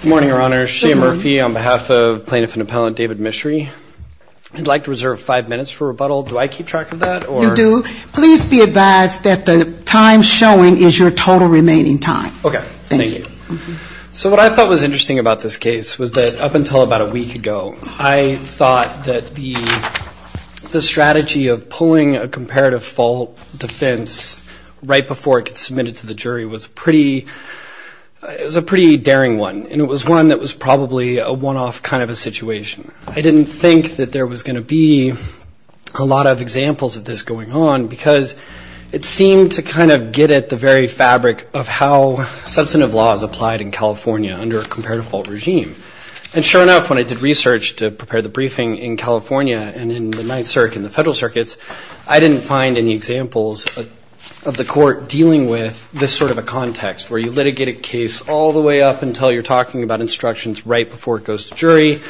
Good morning, Your Honor. Good morning. Shane Murphy on behalf of Plaintiff and Appellant David Michery. I'd like to reserve five minutes for rebuttal. Do I keep track of that? You do. Please be advised that the time showing is your total remaining time. Okay. Thank you. So what I thought was interesting about this case was that up until about a week ago, I thought that the strategy of pulling a comparative fault defense right before it gets submitted to the jury was a pretty daring one. And it was one that was probably a one-off kind of a situation. I didn't think that there was going to be a lot of examples of this going on because it seemed to kind of get at the very fabric of how substantive laws applied in California under a comparative fault regime. And sure enough, when I did research to prepare the briefing in California and in the Ninth Circuit and the Federal Circuits, I didn't find any examples of the court dealing with this sort of a context where you litigate a case all the way up until you're talking about instructions right before it goes to jury,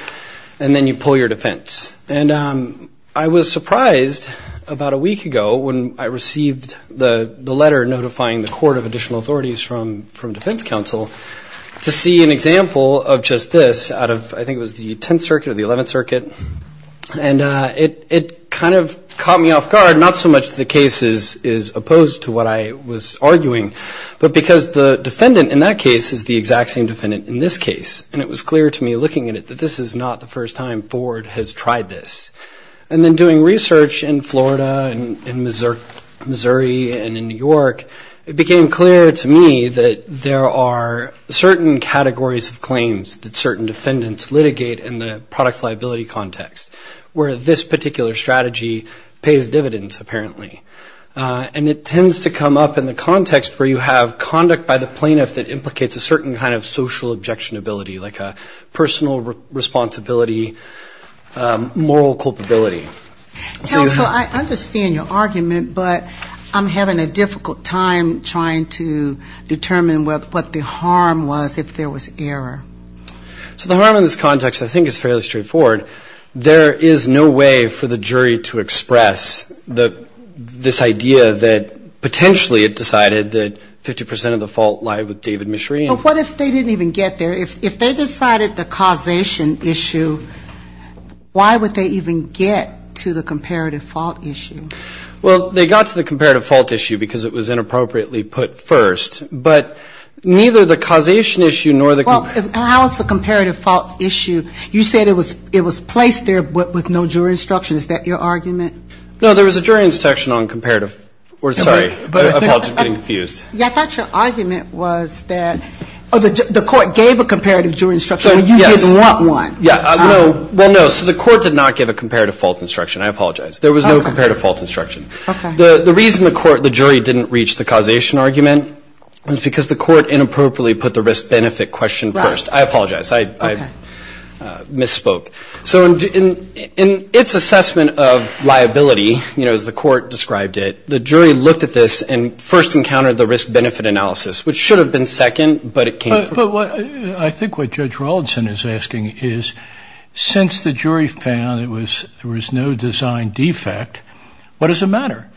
and then you pull your defense. And I was surprised about a week ago when I received the letter notifying the court of additional authorities from defense counsel to see an example of just this out of I think it was the Tenth Circuit or the Eleventh Circuit. And it kind of caught me off guard, not so much the case is opposed to what I was arguing, but because the defendant in that case is the exact same defendant in this case. And it was clear to me looking at it that this is not the first time Ford has tried this. And then doing research in Florida and Missouri and in New York, it became clear to me that there are certain categories of claims that certain defendants litigate in the products liability context where this particular strategy pays dividends apparently. And it tends to come up in the context where you have conduct by the plaintiff that implicates a certain kind of social objectionability, like a personal responsibility, moral culpability. So I understand your argument, but I'm having a difficult time trying to determine what the harm was if there was error. So the harm in this context I think is fairly straightforward. There is no way for the jury to express this idea that potentially it decided that 50 percent of the fault lied with David Mishreen. But what if they didn't even get there? If they decided the causation issue, why would they even get to the comparative fault issue? Well, they got to the comparative fault issue because it was inappropriately put first. But neither the causation issue nor the comparative fault issue, you said it was placed there with no jury instruction. Is that your argument? No, there was a jury instruction on comparative. Sorry, I apologize for getting confused. Yeah, I thought your argument was that the court gave a comparative jury instruction and you didn't want one. Yeah, well, no. So the court did not give a comparative fault instruction. I apologize. There was no comparative fault instruction. The reason the jury didn't reach the causation argument was because the court inappropriately put the risk-benefit question first. I apologize. I misspoke. So in its assessment of liability, you know, as the court described it, the jury looked at this and first encountered the risk-benefit analysis, which should have been second, but it came first. Well, I think what Judge Rawlinson is asking is, since the jury found there was no design defect, what does it matter?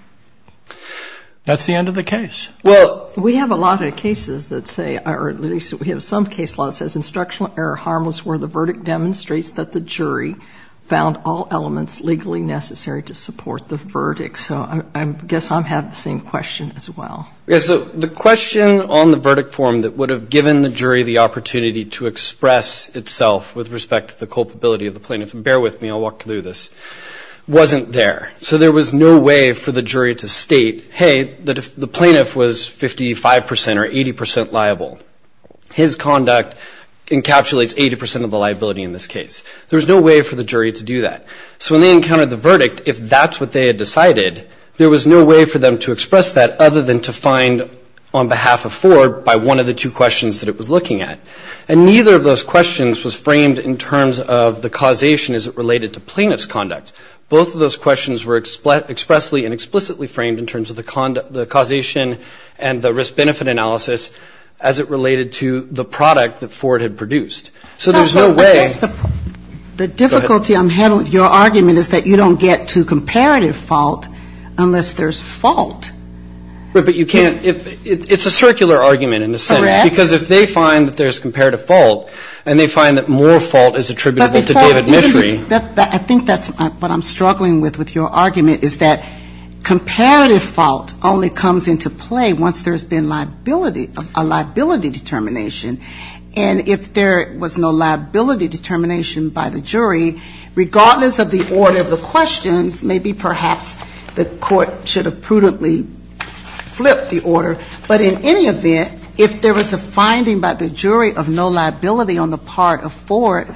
That's the end of the case. Well, we have a lot of cases that say, or at least we have some case law that says, instructional error harmless where the verdict demonstrates that the jury found all elements legally necessary to support the verdict. So I guess I'm having the same question as well. Yeah, so the question on the verdict form that would have given the jury the opportunity to express itself with respect to the culpability of the plaintiff, and bear with me, I'll walk through this, wasn't there. So there was no way for the jury to state, hey, the plaintiff was 55 percent or 80 percent liable. His conduct encapsulates 80 percent of the liability in this case. There was no way for the jury to do that. So when they encountered the verdict, if that's what they had decided, there was no way for them to express that other than to find, on behalf of Ford, by one of the two questions that it was looking at. And neither of those questions was framed in terms of the causation as it related to plaintiff's conduct. Both of those questions were expressly and explicitly framed in terms of the causation and the risk-benefit analysis as it related to the product that Ford had produced. So there's no way. Go ahead. The difficulty I'm having with your argument is that you don't get to comparative fault unless there's fault. But you can't, it's a circular argument in a sense. Correct. Because if they find that there's comparative fault, and they find that more fault is attributable to David Mishry. I think that's what I'm struggling with with your argument is that comparative fault only comes into play once there's been liability, a liability determination. And if there was no liability determination by the jury, regardless of the order of the questions, maybe perhaps the court should have prudently flipped the order. But in any event, if there was a finding by the jury of no liability on the part of Ford,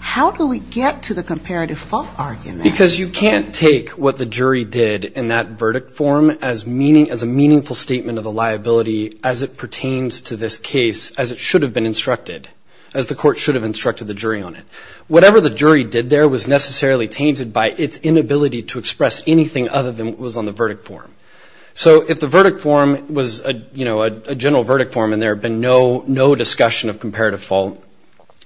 how do we get to the comparative fault argument? Because you can't take what the jury did in that verdict form as a meaningful statement of the liability as it pertains to this case as it should have been instructed, as the court should have instructed the jury on it. Whatever the jury did there was necessarily tainted by its inability to express anything other than what was on the verdict form. So if the verdict form was a general verdict form and there had been no discussion of comparative fault,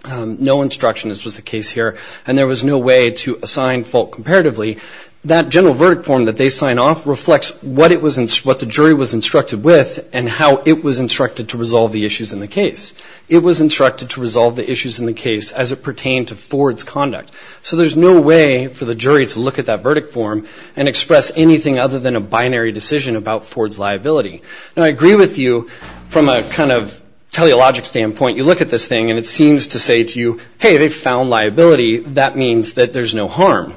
no instruction as was the case here, and there was no way to assign fault comparatively, that general verdict form that they sign off reflects what the jury was instructed with and how it was instructed to resolve the issues in the case. It was instructed to resolve the issues in the case as it pertained to Ford's conduct. So there's no way for the jury to look at that verdict form and express anything other than a binary decision about Ford's liability. Now, I agree with you from a kind of teleologic standpoint. You look at this thing and it seems to say to you, hey, they found liability. That means that there's no harm.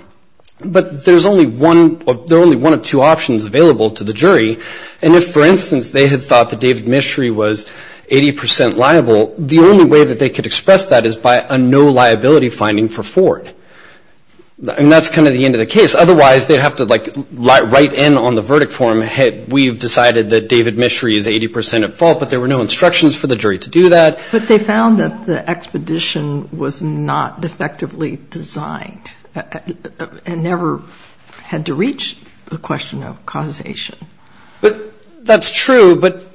But there's only one of two options available to the jury. And if, for instance, they had thought that David Mishry was 80% liable, the only way that they could express that is by a no liability finding for Ford. And that's kind of the end of the case. Otherwise they'd have to like write in on the verdict form, hey, we've decided that David Mishry is 80% at fault, but there were no instructions for the jury to do that. But they found that the expedition was not effectively designed and never had to reach the question of causation. But that's true. But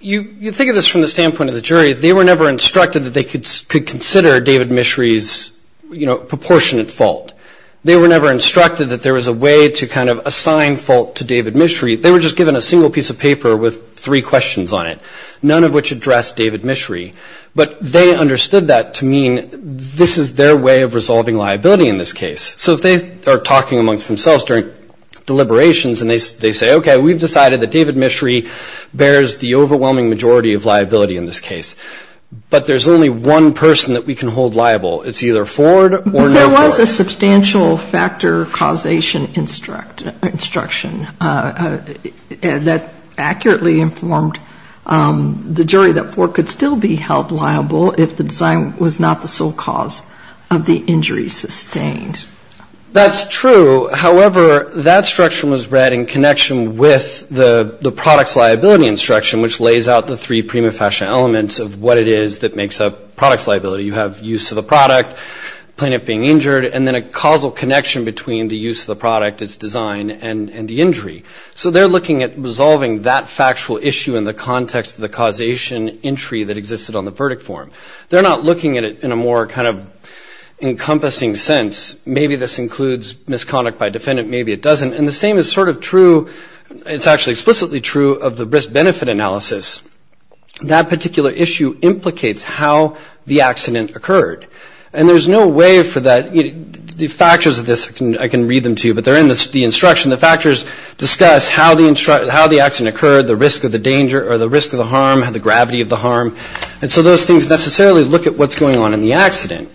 you think of this from the standpoint of the jury. They were never instructed that they could consider David Mishry's, you know, proportionate fault. They were never instructed that there was a way to kind of assign fault to David Mishry. They were just given a single piece of paper with three questions on it, none of which addressed David Mishry. But they understood that to mean this is their way of resolving liability in this case. So if they are talking amongst themselves during deliberations and they say, okay, we've decided that David Mishry bears the overwhelming majority of liability in this case, but there's only one person that we can hold liable. It's either Ford or no Ford. There was a substantial factor causation instruction that accurately informed the jury that Ford could still be held liable if the design was not the sole cause of the injury sustained. That's true. However, that instruction was read in connection with the products liability instruction, which lays out the three prima facie elements of what it is that makes up products liability. You have use of the product, plaintiff being injured, and then a causal connection between the use of the product, its design, and the injury. So they're looking at resolving that factual issue in the context of the causation entry that existed on the verdict form. They're not looking at it in a more kind of encompassing sense. Maybe this includes misconduct by defendant, maybe it doesn't. And the same is sort of true, it's actually explicitly true of the risk-benefit analysis. That particular issue implicates how the accident occurred. And there's no way for that. The factors of this, I can read them to you, but they're in the instruction. The factors discuss how the accident occurred, the risk of the danger or the risk of the harm, the gravity of the harm. And so those things necessarily look at what's going on in the accident.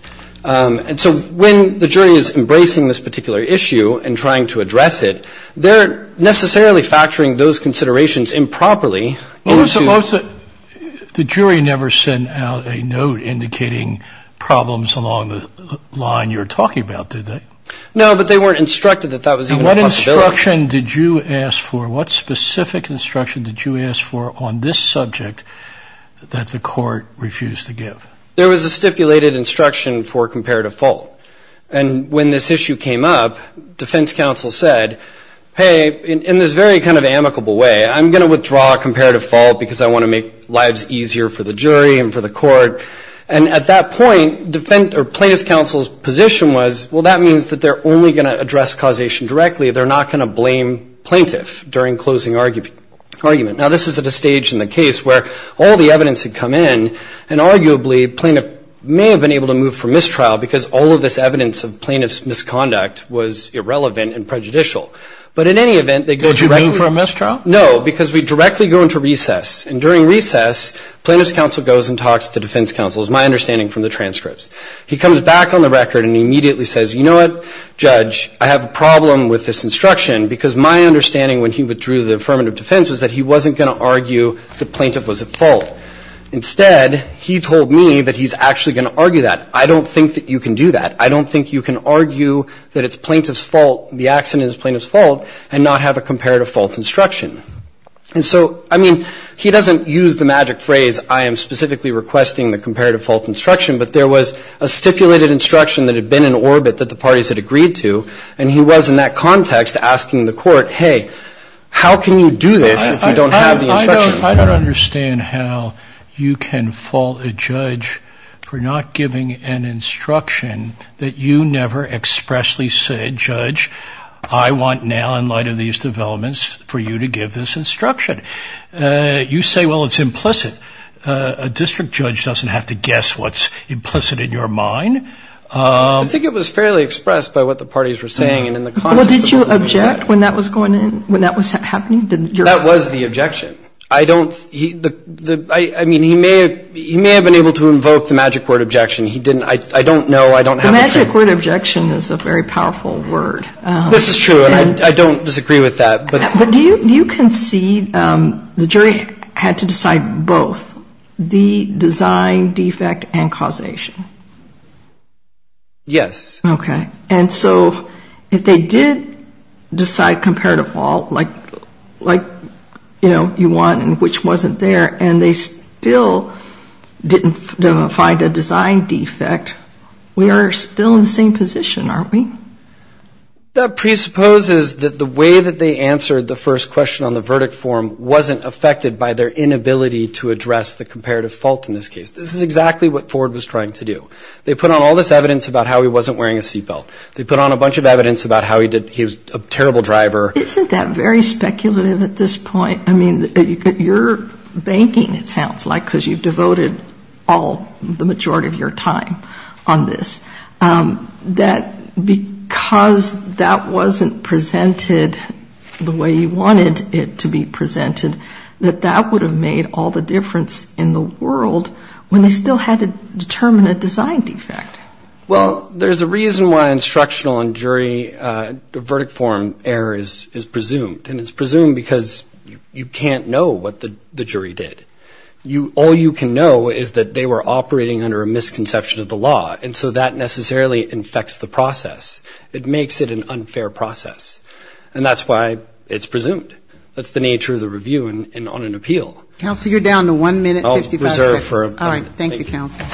And so when the jury is embracing this particular issue and trying to address it, they're necessarily factoring those considerations improperly. The jury never sent out a note indicating problems along the line you're talking about, did they? No, but they weren't instructed that that was even a possibility. And what instruction did you ask for? What specific instruction did you ask for on this subject that the court refused to give? There was a stipulated instruction for comparative fault. And when this issue came up, defense counsel said, hey, in this very kind of amicable way, I'm going to withdraw comparative fault because I want to make lives easier for the jury and for the court. And at that point, plaintiff's counsel's position was, well, that means that they're only going to address causation directly. They're not going to blame plaintiff during closing argument. Now, this is at a stage in the case where all the evidence had come in, and arguably, plaintiff may have been able to move for mistrial because all of this evidence of plaintiff's misconduct was irrelevant and prejudicial. But in any event, they go directly. Did you mean for a mistrial? No, because we directly go into recess. And during recess, plaintiff's counsel goes and talks to defense counsel, is my understanding from the transcripts. He comes back on the record and immediately says, you know what, judge, I have a problem with this instruction because my understanding when he withdrew the affirmative defense was that he wasn't going to argue the plaintiff was at fault. Instead, he told me that he's actually going to argue that. I don't think that you can do that. I don't think you can argue that it's plaintiff's fault, the accident is plaintiff's fault, and not have a comparative fault instruction. And so, I mean, he doesn't use the magic phrase, I am specifically requesting the comparative fault instruction, but there was a stipulated instruction that had been in orbit that the parties had agreed to, and he was in that context asking the court, hey, how can you do this if you don't have the instruction? I don't understand how you can fault a judge for not giving an instruction that you never expressly said, judge, I want now in light of these developments for you to give this instruction. You say, well, it's implicit. A district judge doesn't have to guess what's implicit in your mind. I think it was fairly expressed by what the parties were saying. Well, did you object when that was happening? That was the objection. I don't, I mean, he may have been able to invoke the magic word objection. He didn't, I don't know. The magic word objection is a very powerful word. This is true. I don't disagree with that. But do you concede the jury had to decide both, the design defect and causation? Yes. Okay. And so if they did decide comparative fault, like, you know, you want and which wasn't there, and they still didn't find a design defect, we are still in the same position, aren't we? That presupposes that the way that they answered the first question on the verdict form wasn't affected by their inability to address the comparative fault in this case. This is exactly what Ford was trying to do. They put on all this evidence about how he wasn't wearing a seatbelt. They put on a bunch of evidence about how he did, he was a terrible driver. Isn't that very speculative at this point? I mean, your banking, it sounds like, because you've devoted all, the majority of your time on this, that because that wasn't presented the way you wanted it to be presented, that that would have made all the difference in the world when they still had to determine a design defect. Well, there's a reason why instructional and jury verdict form error is presumed, and it's presumed because you can't know what the jury did. All you can know is that they were operating under a misconception of the law, and so that necessarily infects the process. It makes it an unfair process, and that's why it's presumed. That's the nature of the review and on an appeal. Counsel, you're down to one minute and 55 seconds. I'll reserve for a moment. All right. Thank you, counsel.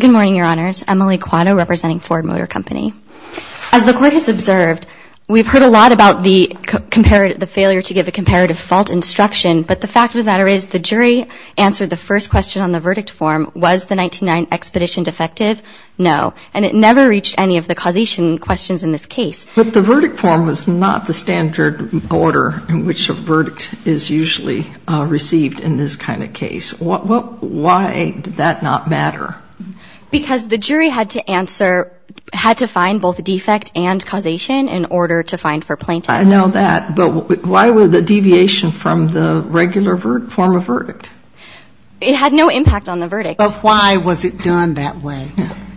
Good morning, Your Honors. Emily Quatto, representing Ford Motor Company. As the Court has observed, we've heard a lot about the failure to give a comparative fault instruction, but the fact of the matter is the jury answered the first question on the verdict form, was the 99 expedition defective? No. And it never reached any of the causation questions in this case. But the verdict form was not the standard order in which a verdict is usually received in this kind of case. Why did that not matter? Because the jury had to answer, had to find both defect and causation in order to find for plaintiff. I know that, but why was the deviation from the regular form of verdict? It had no impact on the verdict. But why was it done that way?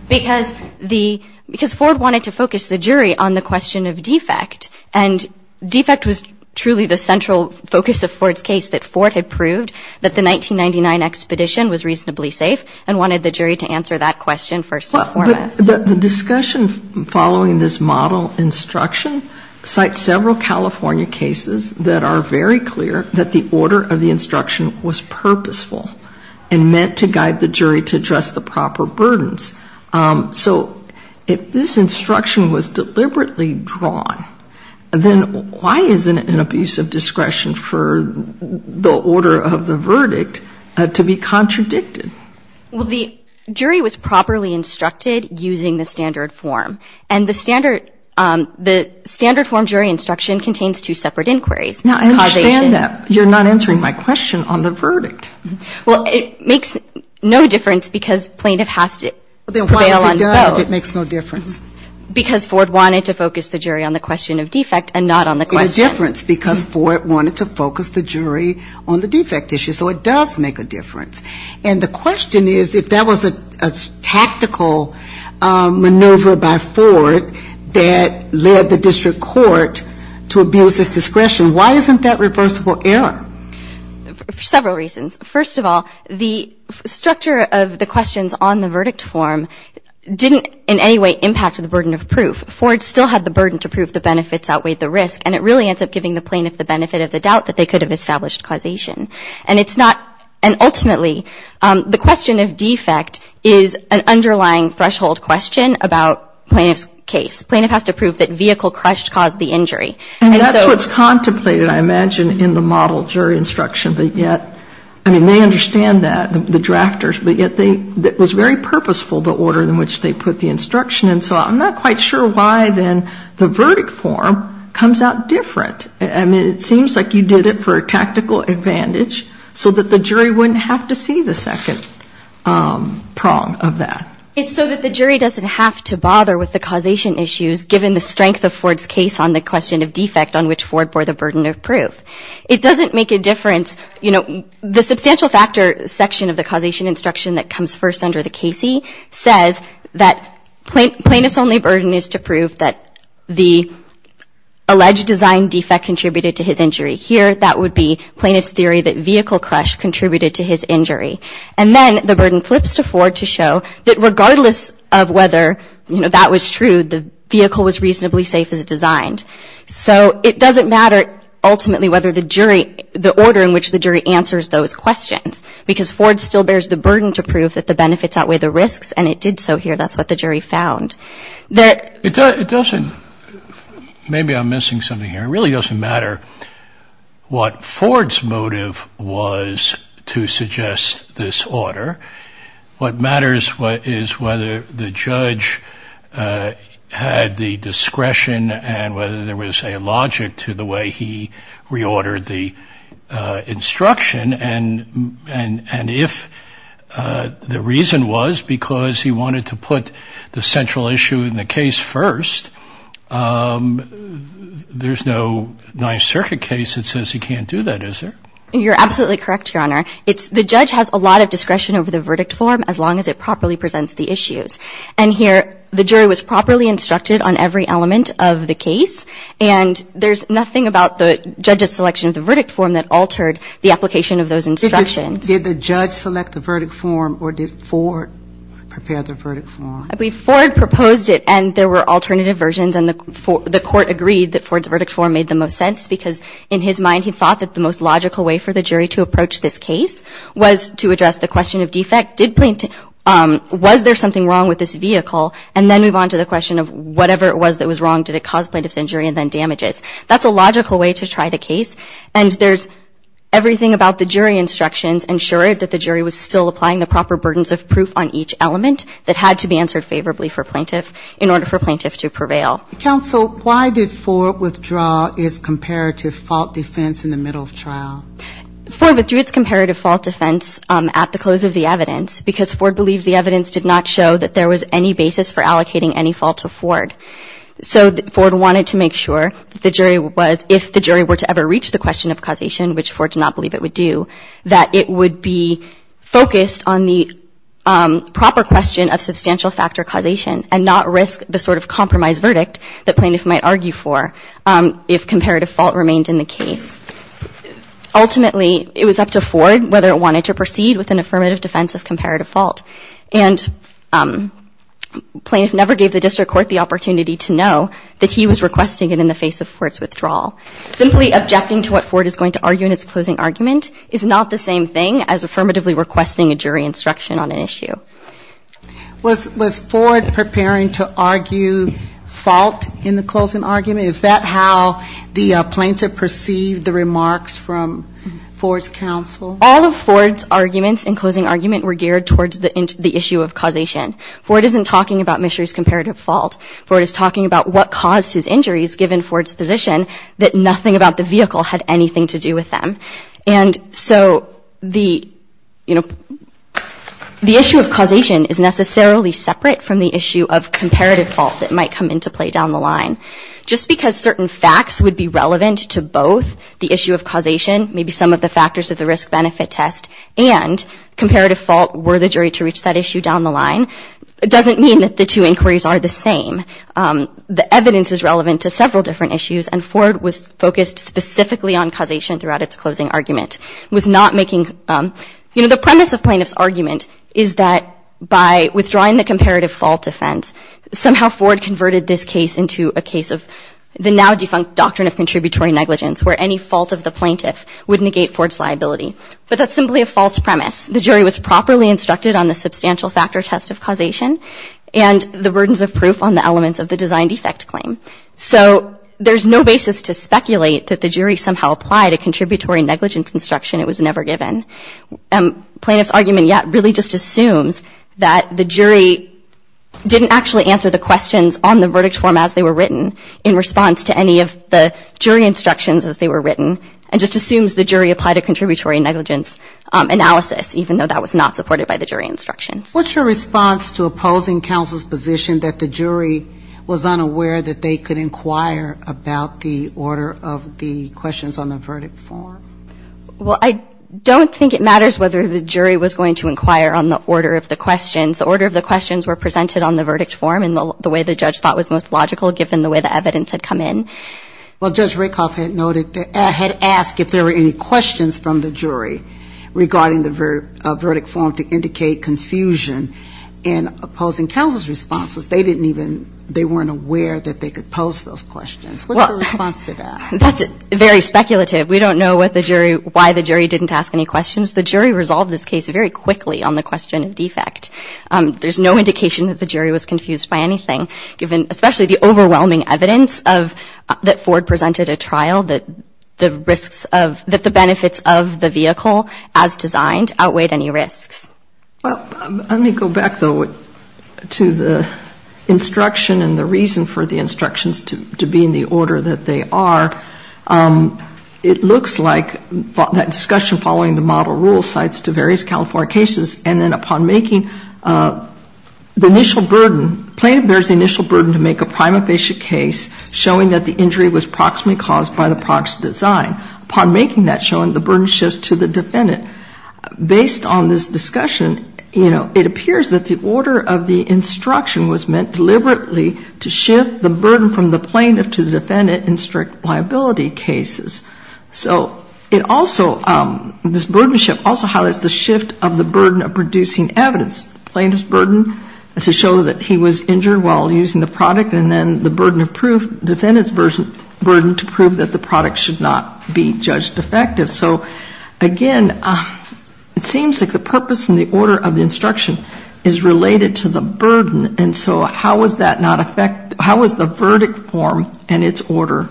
Because Ford wanted to focus the jury on the question of defect, and defect was truly the central focus of Ford's case, that Ford had proved that the 1999 expedition was reasonably safe and wanted the jury to answer that question first and foremost. But the discussion following this model instruction cites several California cases that are very clear that the order of the instruction was purposeful and meant to guide the jury to address the proper burdens. So if this instruction was deliberately drawn, then why isn't it an abuse of discretion for the order of the verdict to be contradicted? Well, the jury was properly instructed using the standard form. And the standard form jury instruction contains two separate inquiries. Now, I understand that. You're not answering my question on the verdict. Well, it makes no difference because plaintiff has to prevail on both. Then why is it done if it makes no difference? Because Ford wanted to focus the jury on the question of defect and not on the question. It made a difference because Ford wanted to focus the jury on the defect issue. So it does make a difference. And the question is, if that was a tactical maneuver by Ford that led the district court to abuse its discretion, why isn't that reversible error? For several reasons. First of all, the structure of the questions on the verdict form didn't in any way impact the burden of proof. Ford still had the burden to prove the benefits outweighed the risk. And it really ends up giving the plaintiff the benefit of the doubt that they could have established causation. And it's not, and ultimately, the question of defect is an underlying threshold question about plaintiff's case. Plaintiff has to prove that vehicle crushed caused the injury. And so that's what's contemplated, I imagine, in the model jury instruction. But yet, I mean, they understand that, the drafters. But yet they, it was very purposeful, the order in which they put the instruction. And so I'm not quite sure why, then, the verdict form comes out different. I mean, it seems like you did it for a tactical advantage so that the jury wouldn't have to see the second prong of that. It's so that the jury doesn't have to bother with the causation issues, given the strength of Ford's case on the question of defect on which Ford bore the burden of proof. It doesn't make a difference, you know, the substantial factor section of the causation instruction that comes first under the Casey says that plaintiff's only burden is to prove that the alleged design defect contributed to his injury. Here, that would be plaintiff's theory that vehicle crush contributed to his injury. And then the burden flips to Ford to show that regardless of whether, you know, that was true, the vehicle was reasonably safe as designed. So it doesn't matter, ultimately, whether the jury, the order in which the jury answers those questions. Because Ford still bears the burden to prove that the benefits outweigh the risks. And it did so here. That's what the jury found. It doesn't. Maybe I'm missing something here. It really doesn't matter what Ford's motive was to suggest this order. What matters is whether the judge had the discretion and whether there was a logic to the way he reordered the instruction. And if the reason was because he wanted to put the central issue in the case first, there's no Ninth Circuit case that says he can't do that, is there? You're absolutely correct, Your Honor. The judge has a lot of discretion over the verdict form as long as it properly presents the issues. And here the jury was properly instructed on every element of the case. And there's nothing about the judge's selection of the verdict form that altered the application of those instructions. Did the judge select the verdict form or did Ford prepare the verdict form? I believe Ford proposed it and there were alternative versions. And the court agreed that Ford's verdict form made the most sense because in his mind, he thought that the most logical way for the jury to approach this case was to address the question of defect. Was there something wrong with this vehicle? And then move on to the question of whatever it was that was wrong. Did it cause plaintiff's injury and then damages? That's a logical way to try the case. And there's everything about the jury instructions ensured that the jury was still applying the proper burdens of proof on each element that had to be answered favorably for plaintiff in order for plaintiff to prevail. Counsel, why did Ford withdraw his comparative fault defense in the middle of trial? Ford withdrew its comparative fault defense at the close of the evidence because Ford believed the evidence did not show that there was any basis for allocating any fault to Ford. So Ford wanted to make sure if the jury were to ever reach the question of causation, which Ford did not believe it would do, that it would be focused on the proper question of substantial factor causation and not risk the sort of compromise verdict that plaintiff might argue for if comparative fault remained in the case. Ultimately, it was up to Ford whether it wanted to proceed with an affirmative defense of comparative fault. And plaintiff never gave the district court the opportunity to know that he was requesting it in the face of Ford's withdrawal. Simply objecting to what Ford is going to argue in its closing argument is not the same thing as affirmatively requesting a jury instruction on an issue. Was Ford preparing to argue fault in the closing argument? Is that how the plaintiff perceived the remarks from Ford's counsel? All of Ford's arguments in closing argument were geared towards the issue of causation. Ford isn't talking about Mishra's comparative fault. Ford is talking about what caused his injuries, given Ford's position, that nothing about the vehicle had anything to do with them. And so the issue of causation is necessarily separate from the issue of comparative fault that might come into play down the line. Just because certain facts would be relevant to both the issue of causation, maybe some of the factors of the risk-benefit test, and comparative fault were the jury to reach that issue down the line, doesn't mean that the two inquiries are the same. The evidence is relevant to several different issues, and Ford was focused specifically on causation throughout its closing argument. It was not making, you know, the premise of plaintiff's argument is that by withdrawing the comparative fault defense, somehow Ford converted this case into a case of the now defunct doctrine of contributory negligence, where any fault of the plaintiff would negate Ford's liability. But that's simply a false premise. The jury was properly instructed on the substantial factor test of causation and the burdens of proof on the elements of the design defect claim. So there's no basis to speculate that the jury somehow applied a contributory negligence instruction it was never given. Plaintiff's argument yet really just assumes that the jury didn't actually answer the questions on the verdict form as they were written in response to any of the jury instructions as they were written, and just assumes the jury applied a contributory negligence analysis, even though that was not supported by the jury instructions. What's your response to opposing counsel's position that the jury was unaware that they could inquire about the order of the questions on the verdict form? Well, I don't think it matters whether the jury was going to inquire on the order of the questions. The order of the questions were presented on the verdict form in the way the judge thought was most logical, given the way the evidence had come in. Well, Judge Rakoff had noted, had asked if there were any questions from the jury regarding the verdict form to indicate confusion in opposing counsel's response, was they didn't even, they weren't aware that they could pose those questions. What's your response to that? That's very speculative. We don't know what the jury, why the jury didn't ask any questions. The jury resolved this case very quickly on the question of defect. There's no indication that the jury was confused by anything, given especially the overwhelming evidence of, that Ford presented a trial that the risks of, that the benefits of the vehicle as designed outweighed any risks. Well, let me go back, though, to the instruction and the reason for the instructions to be in the order that they are. It looks like that discussion following the model rule cites to various California cases, and then upon making the initial burden, plaintiff bears the initial burden to make a prima facie case showing that the injury was proximately caused by the prox design. Upon making that showing, the burden shifts to the defendant. Based on this discussion, you know, it appears that the order of the instruction was meant deliberately to shift the burden from the plaintiff to the defendant in strict liability cases. So it also, this burdenship also highlights the shift of the burden of producing evidence, plaintiff's burden to show that he was injured while using the product, and then the burden of proof, defendant's burden to prove that the product should not be judged defective. So, again, it seems like the purpose and the order of the instruction is related to the burden and so how is that not affect, how is the verdict form and its order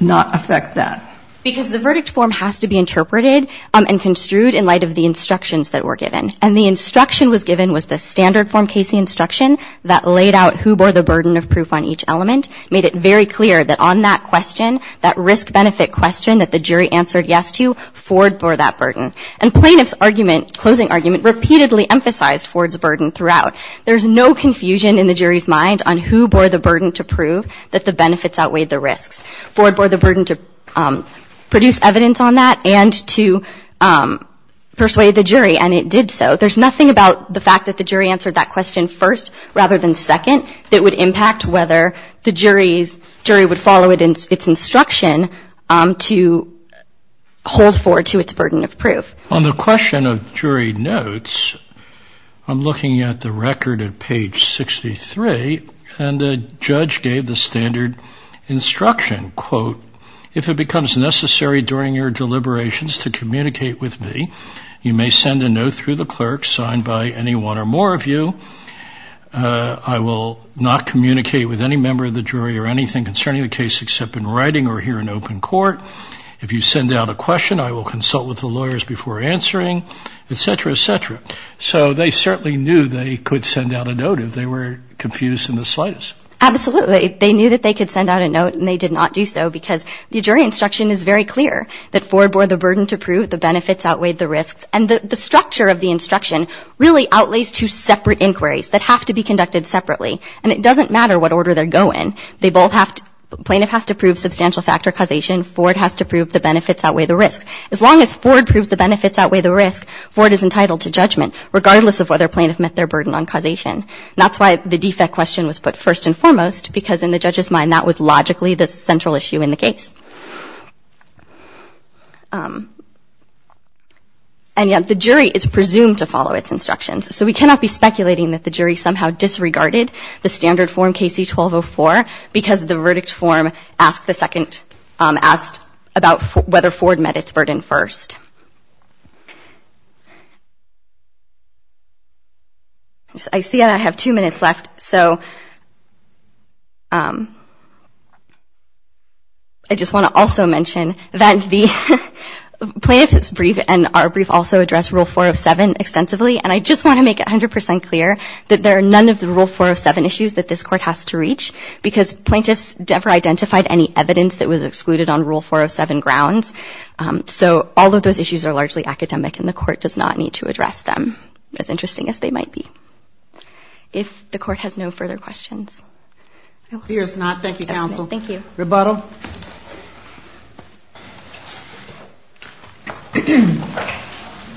not affect that? Because the verdict form has to be interpreted and construed in light of the instructions that were given. And the instruction was given was the standard form case instruction that laid out who bore the burden of proof on each element, made it very clear that on that question, that risk benefit question that the jury answered yes to, Ford bore that burden. And plaintiff's argument, closing argument, repeatedly emphasized Ford's burden throughout. There's no confusion in the jury's mind on who bore the burden to prove that the benefits outweighed the risks. Ford bore the burden to produce evidence on that and to persuade the jury, and it did so. There's nothing about the fact that the jury answered that question first rather than second that would impact whether the jury would follow its instruction to hold forward to its burden of proof. On the question of jury notes, I'm looking at the record at page 63 and the judge gave the standard instruction, quote, if it becomes necessary during your deliberations to communicate with me, you may send a note through the clerk signed by any one or more of you. I will not communicate with any member of the jury or anything concerning the case except in writing or here in open court. If you send out a question, I will consult with the lawyers before answering, et cetera, et cetera. So they certainly knew they could send out a note if they were confused in the slightest. Absolutely. They knew that they could send out a note, and they did not do so because the jury instruction is very clear, that Ford bore the burden to prove the benefits outweighed the risks. And the structure of the instruction really outlays two separate inquiries that have to be conducted separately, and it doesn't matter what order they're going. Plaintiff has to prove substantial factor causation. Ford has to prove the benefits outweigh the risks. As long as Ford proves the benefits outweigh the risks, Ford is entitled to judgment, regardless of whether plaintiff met their burden on causation. That's why the defect question was put first and foremost, because in the judge's mind that was logically the central issue in the case. And yet the jury is presumed to follow its instructions. So we cannot be speculating that the jury somehow disregarded the standard form KC-1204 because the verdict form asked about whether Ford met its burden first. I see that I have two minutes left, so I just want to also mention that the plaintiff's brief and our brief also address Rule 407 extensively, and I just want to make it 100 percent clear that there are none of the Rule 407 issues that this Court has to reach because plaintiffs never identified any evidence that was excluded on Rule 407 grounds. So all of those issues are largely academic, and the Court does not need to address them, as interesting as they might be. If the Court has no further questions. Here's not. Thank you, counsel. Thank you. Rebuttal.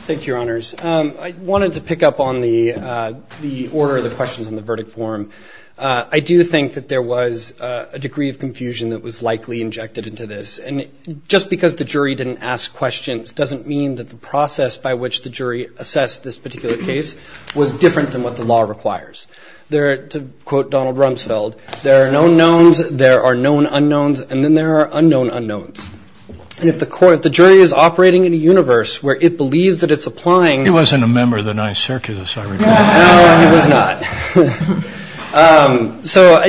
Thank you, Your Honors. I wanted to pick up on the order of the questions on the verdict form. I do think that there was a degree of confusion that was likely injected into this, and just because the jury didn't ask questions doesn't mean that the process by which the jury assessed this particular case was different than what the law requires. To quote Donald Rumsfeld, there are known knowns, there are known unknowns, and then there are unknown unknowns. And if the jury is operating in a universe where it believes that it's applying. He wasn't a member of the nice circus, I recall. No, he was not. So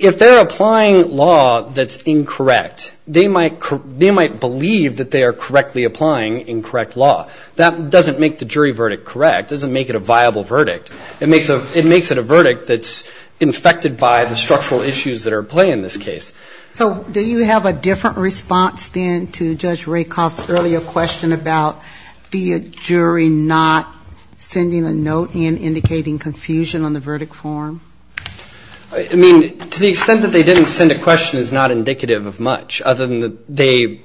if they're applying law that's incorrect, they might believe that they are correctly applying incorrect law. That doesn't make the jury verdict correct. It doesn't make it a viable verdict. It makes it a verdict that's infected by the structural issues that are at play in this case. So do you have a different response, then, to Judge Rakoff's earlier question about the jury not sending a note and indicating confusion on the verdict form? I mean, to the extent that they didn't send a question is not indicative of much, other than that they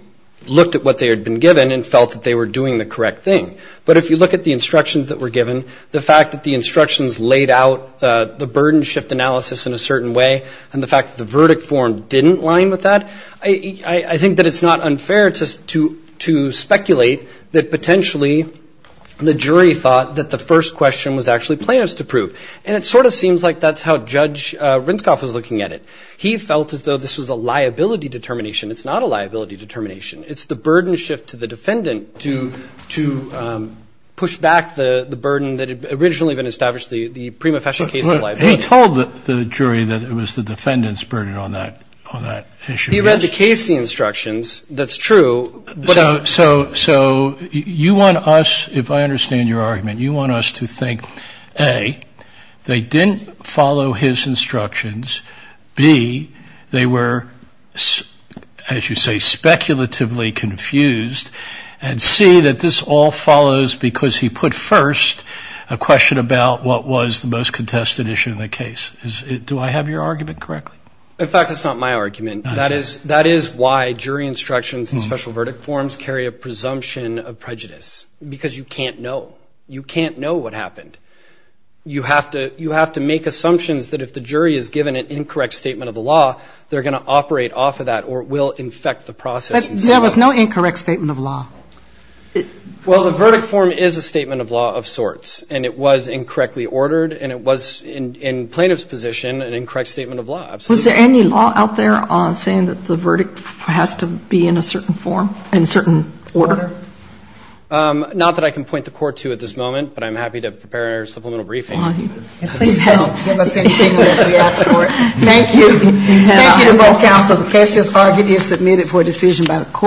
looked at what they had been given and felt that they were doing the correct thing. But if you look at the instructions that were given, the fact that the instructions laid out the burden shift analysis in a certain way and the fact that the verdict form didn't line with that, I think that it's not unfair to speculate that potentially the jury thought that the first question was actually plaintiff's to prove. And it sort of seems like that's how Judge Rinskoff was looking at it. He felt as though this was a liability determination. It's not a liability determination. It's the burden shift to the defendant to push back the burden that had originally been established, the prima facie case of liability. He told the jury that it was the defendant's burden on that issue. He read the Casey instructions. That's true. So you want us, if I understand your argument, you want us to think, A, they didn't follow his instructions, B, they were, as you say, speculatively confused, and C, that this all follows because he put first a question about what was the most contested issue in the case. Do I have your argument correctly? In fact, that's not my argument. That is why jury instructions and special verdict forms carry a presumption of prejudice because you can't know. You can't know what happened. You have to make assumptions that if the jury is given an incorrect statement of the law, they're going to operate off of that or it will infect the process. But there was no incorrect statement of law. Well, the verdict form is a statement of law of sorts, and it was incorrectly ordered and it was, in plaintiff's position, an incorrect statement of law. Was there any law out there saying that the verdict has to be in a certain form, in a certain order? Not that I can point the court to at this moment, but I'm happy to prepare a supplemental briefing. And please don't give us anything unless we ask for it. Thank you. Thank you to both counsel. The case is argued and submitted for decision by the court.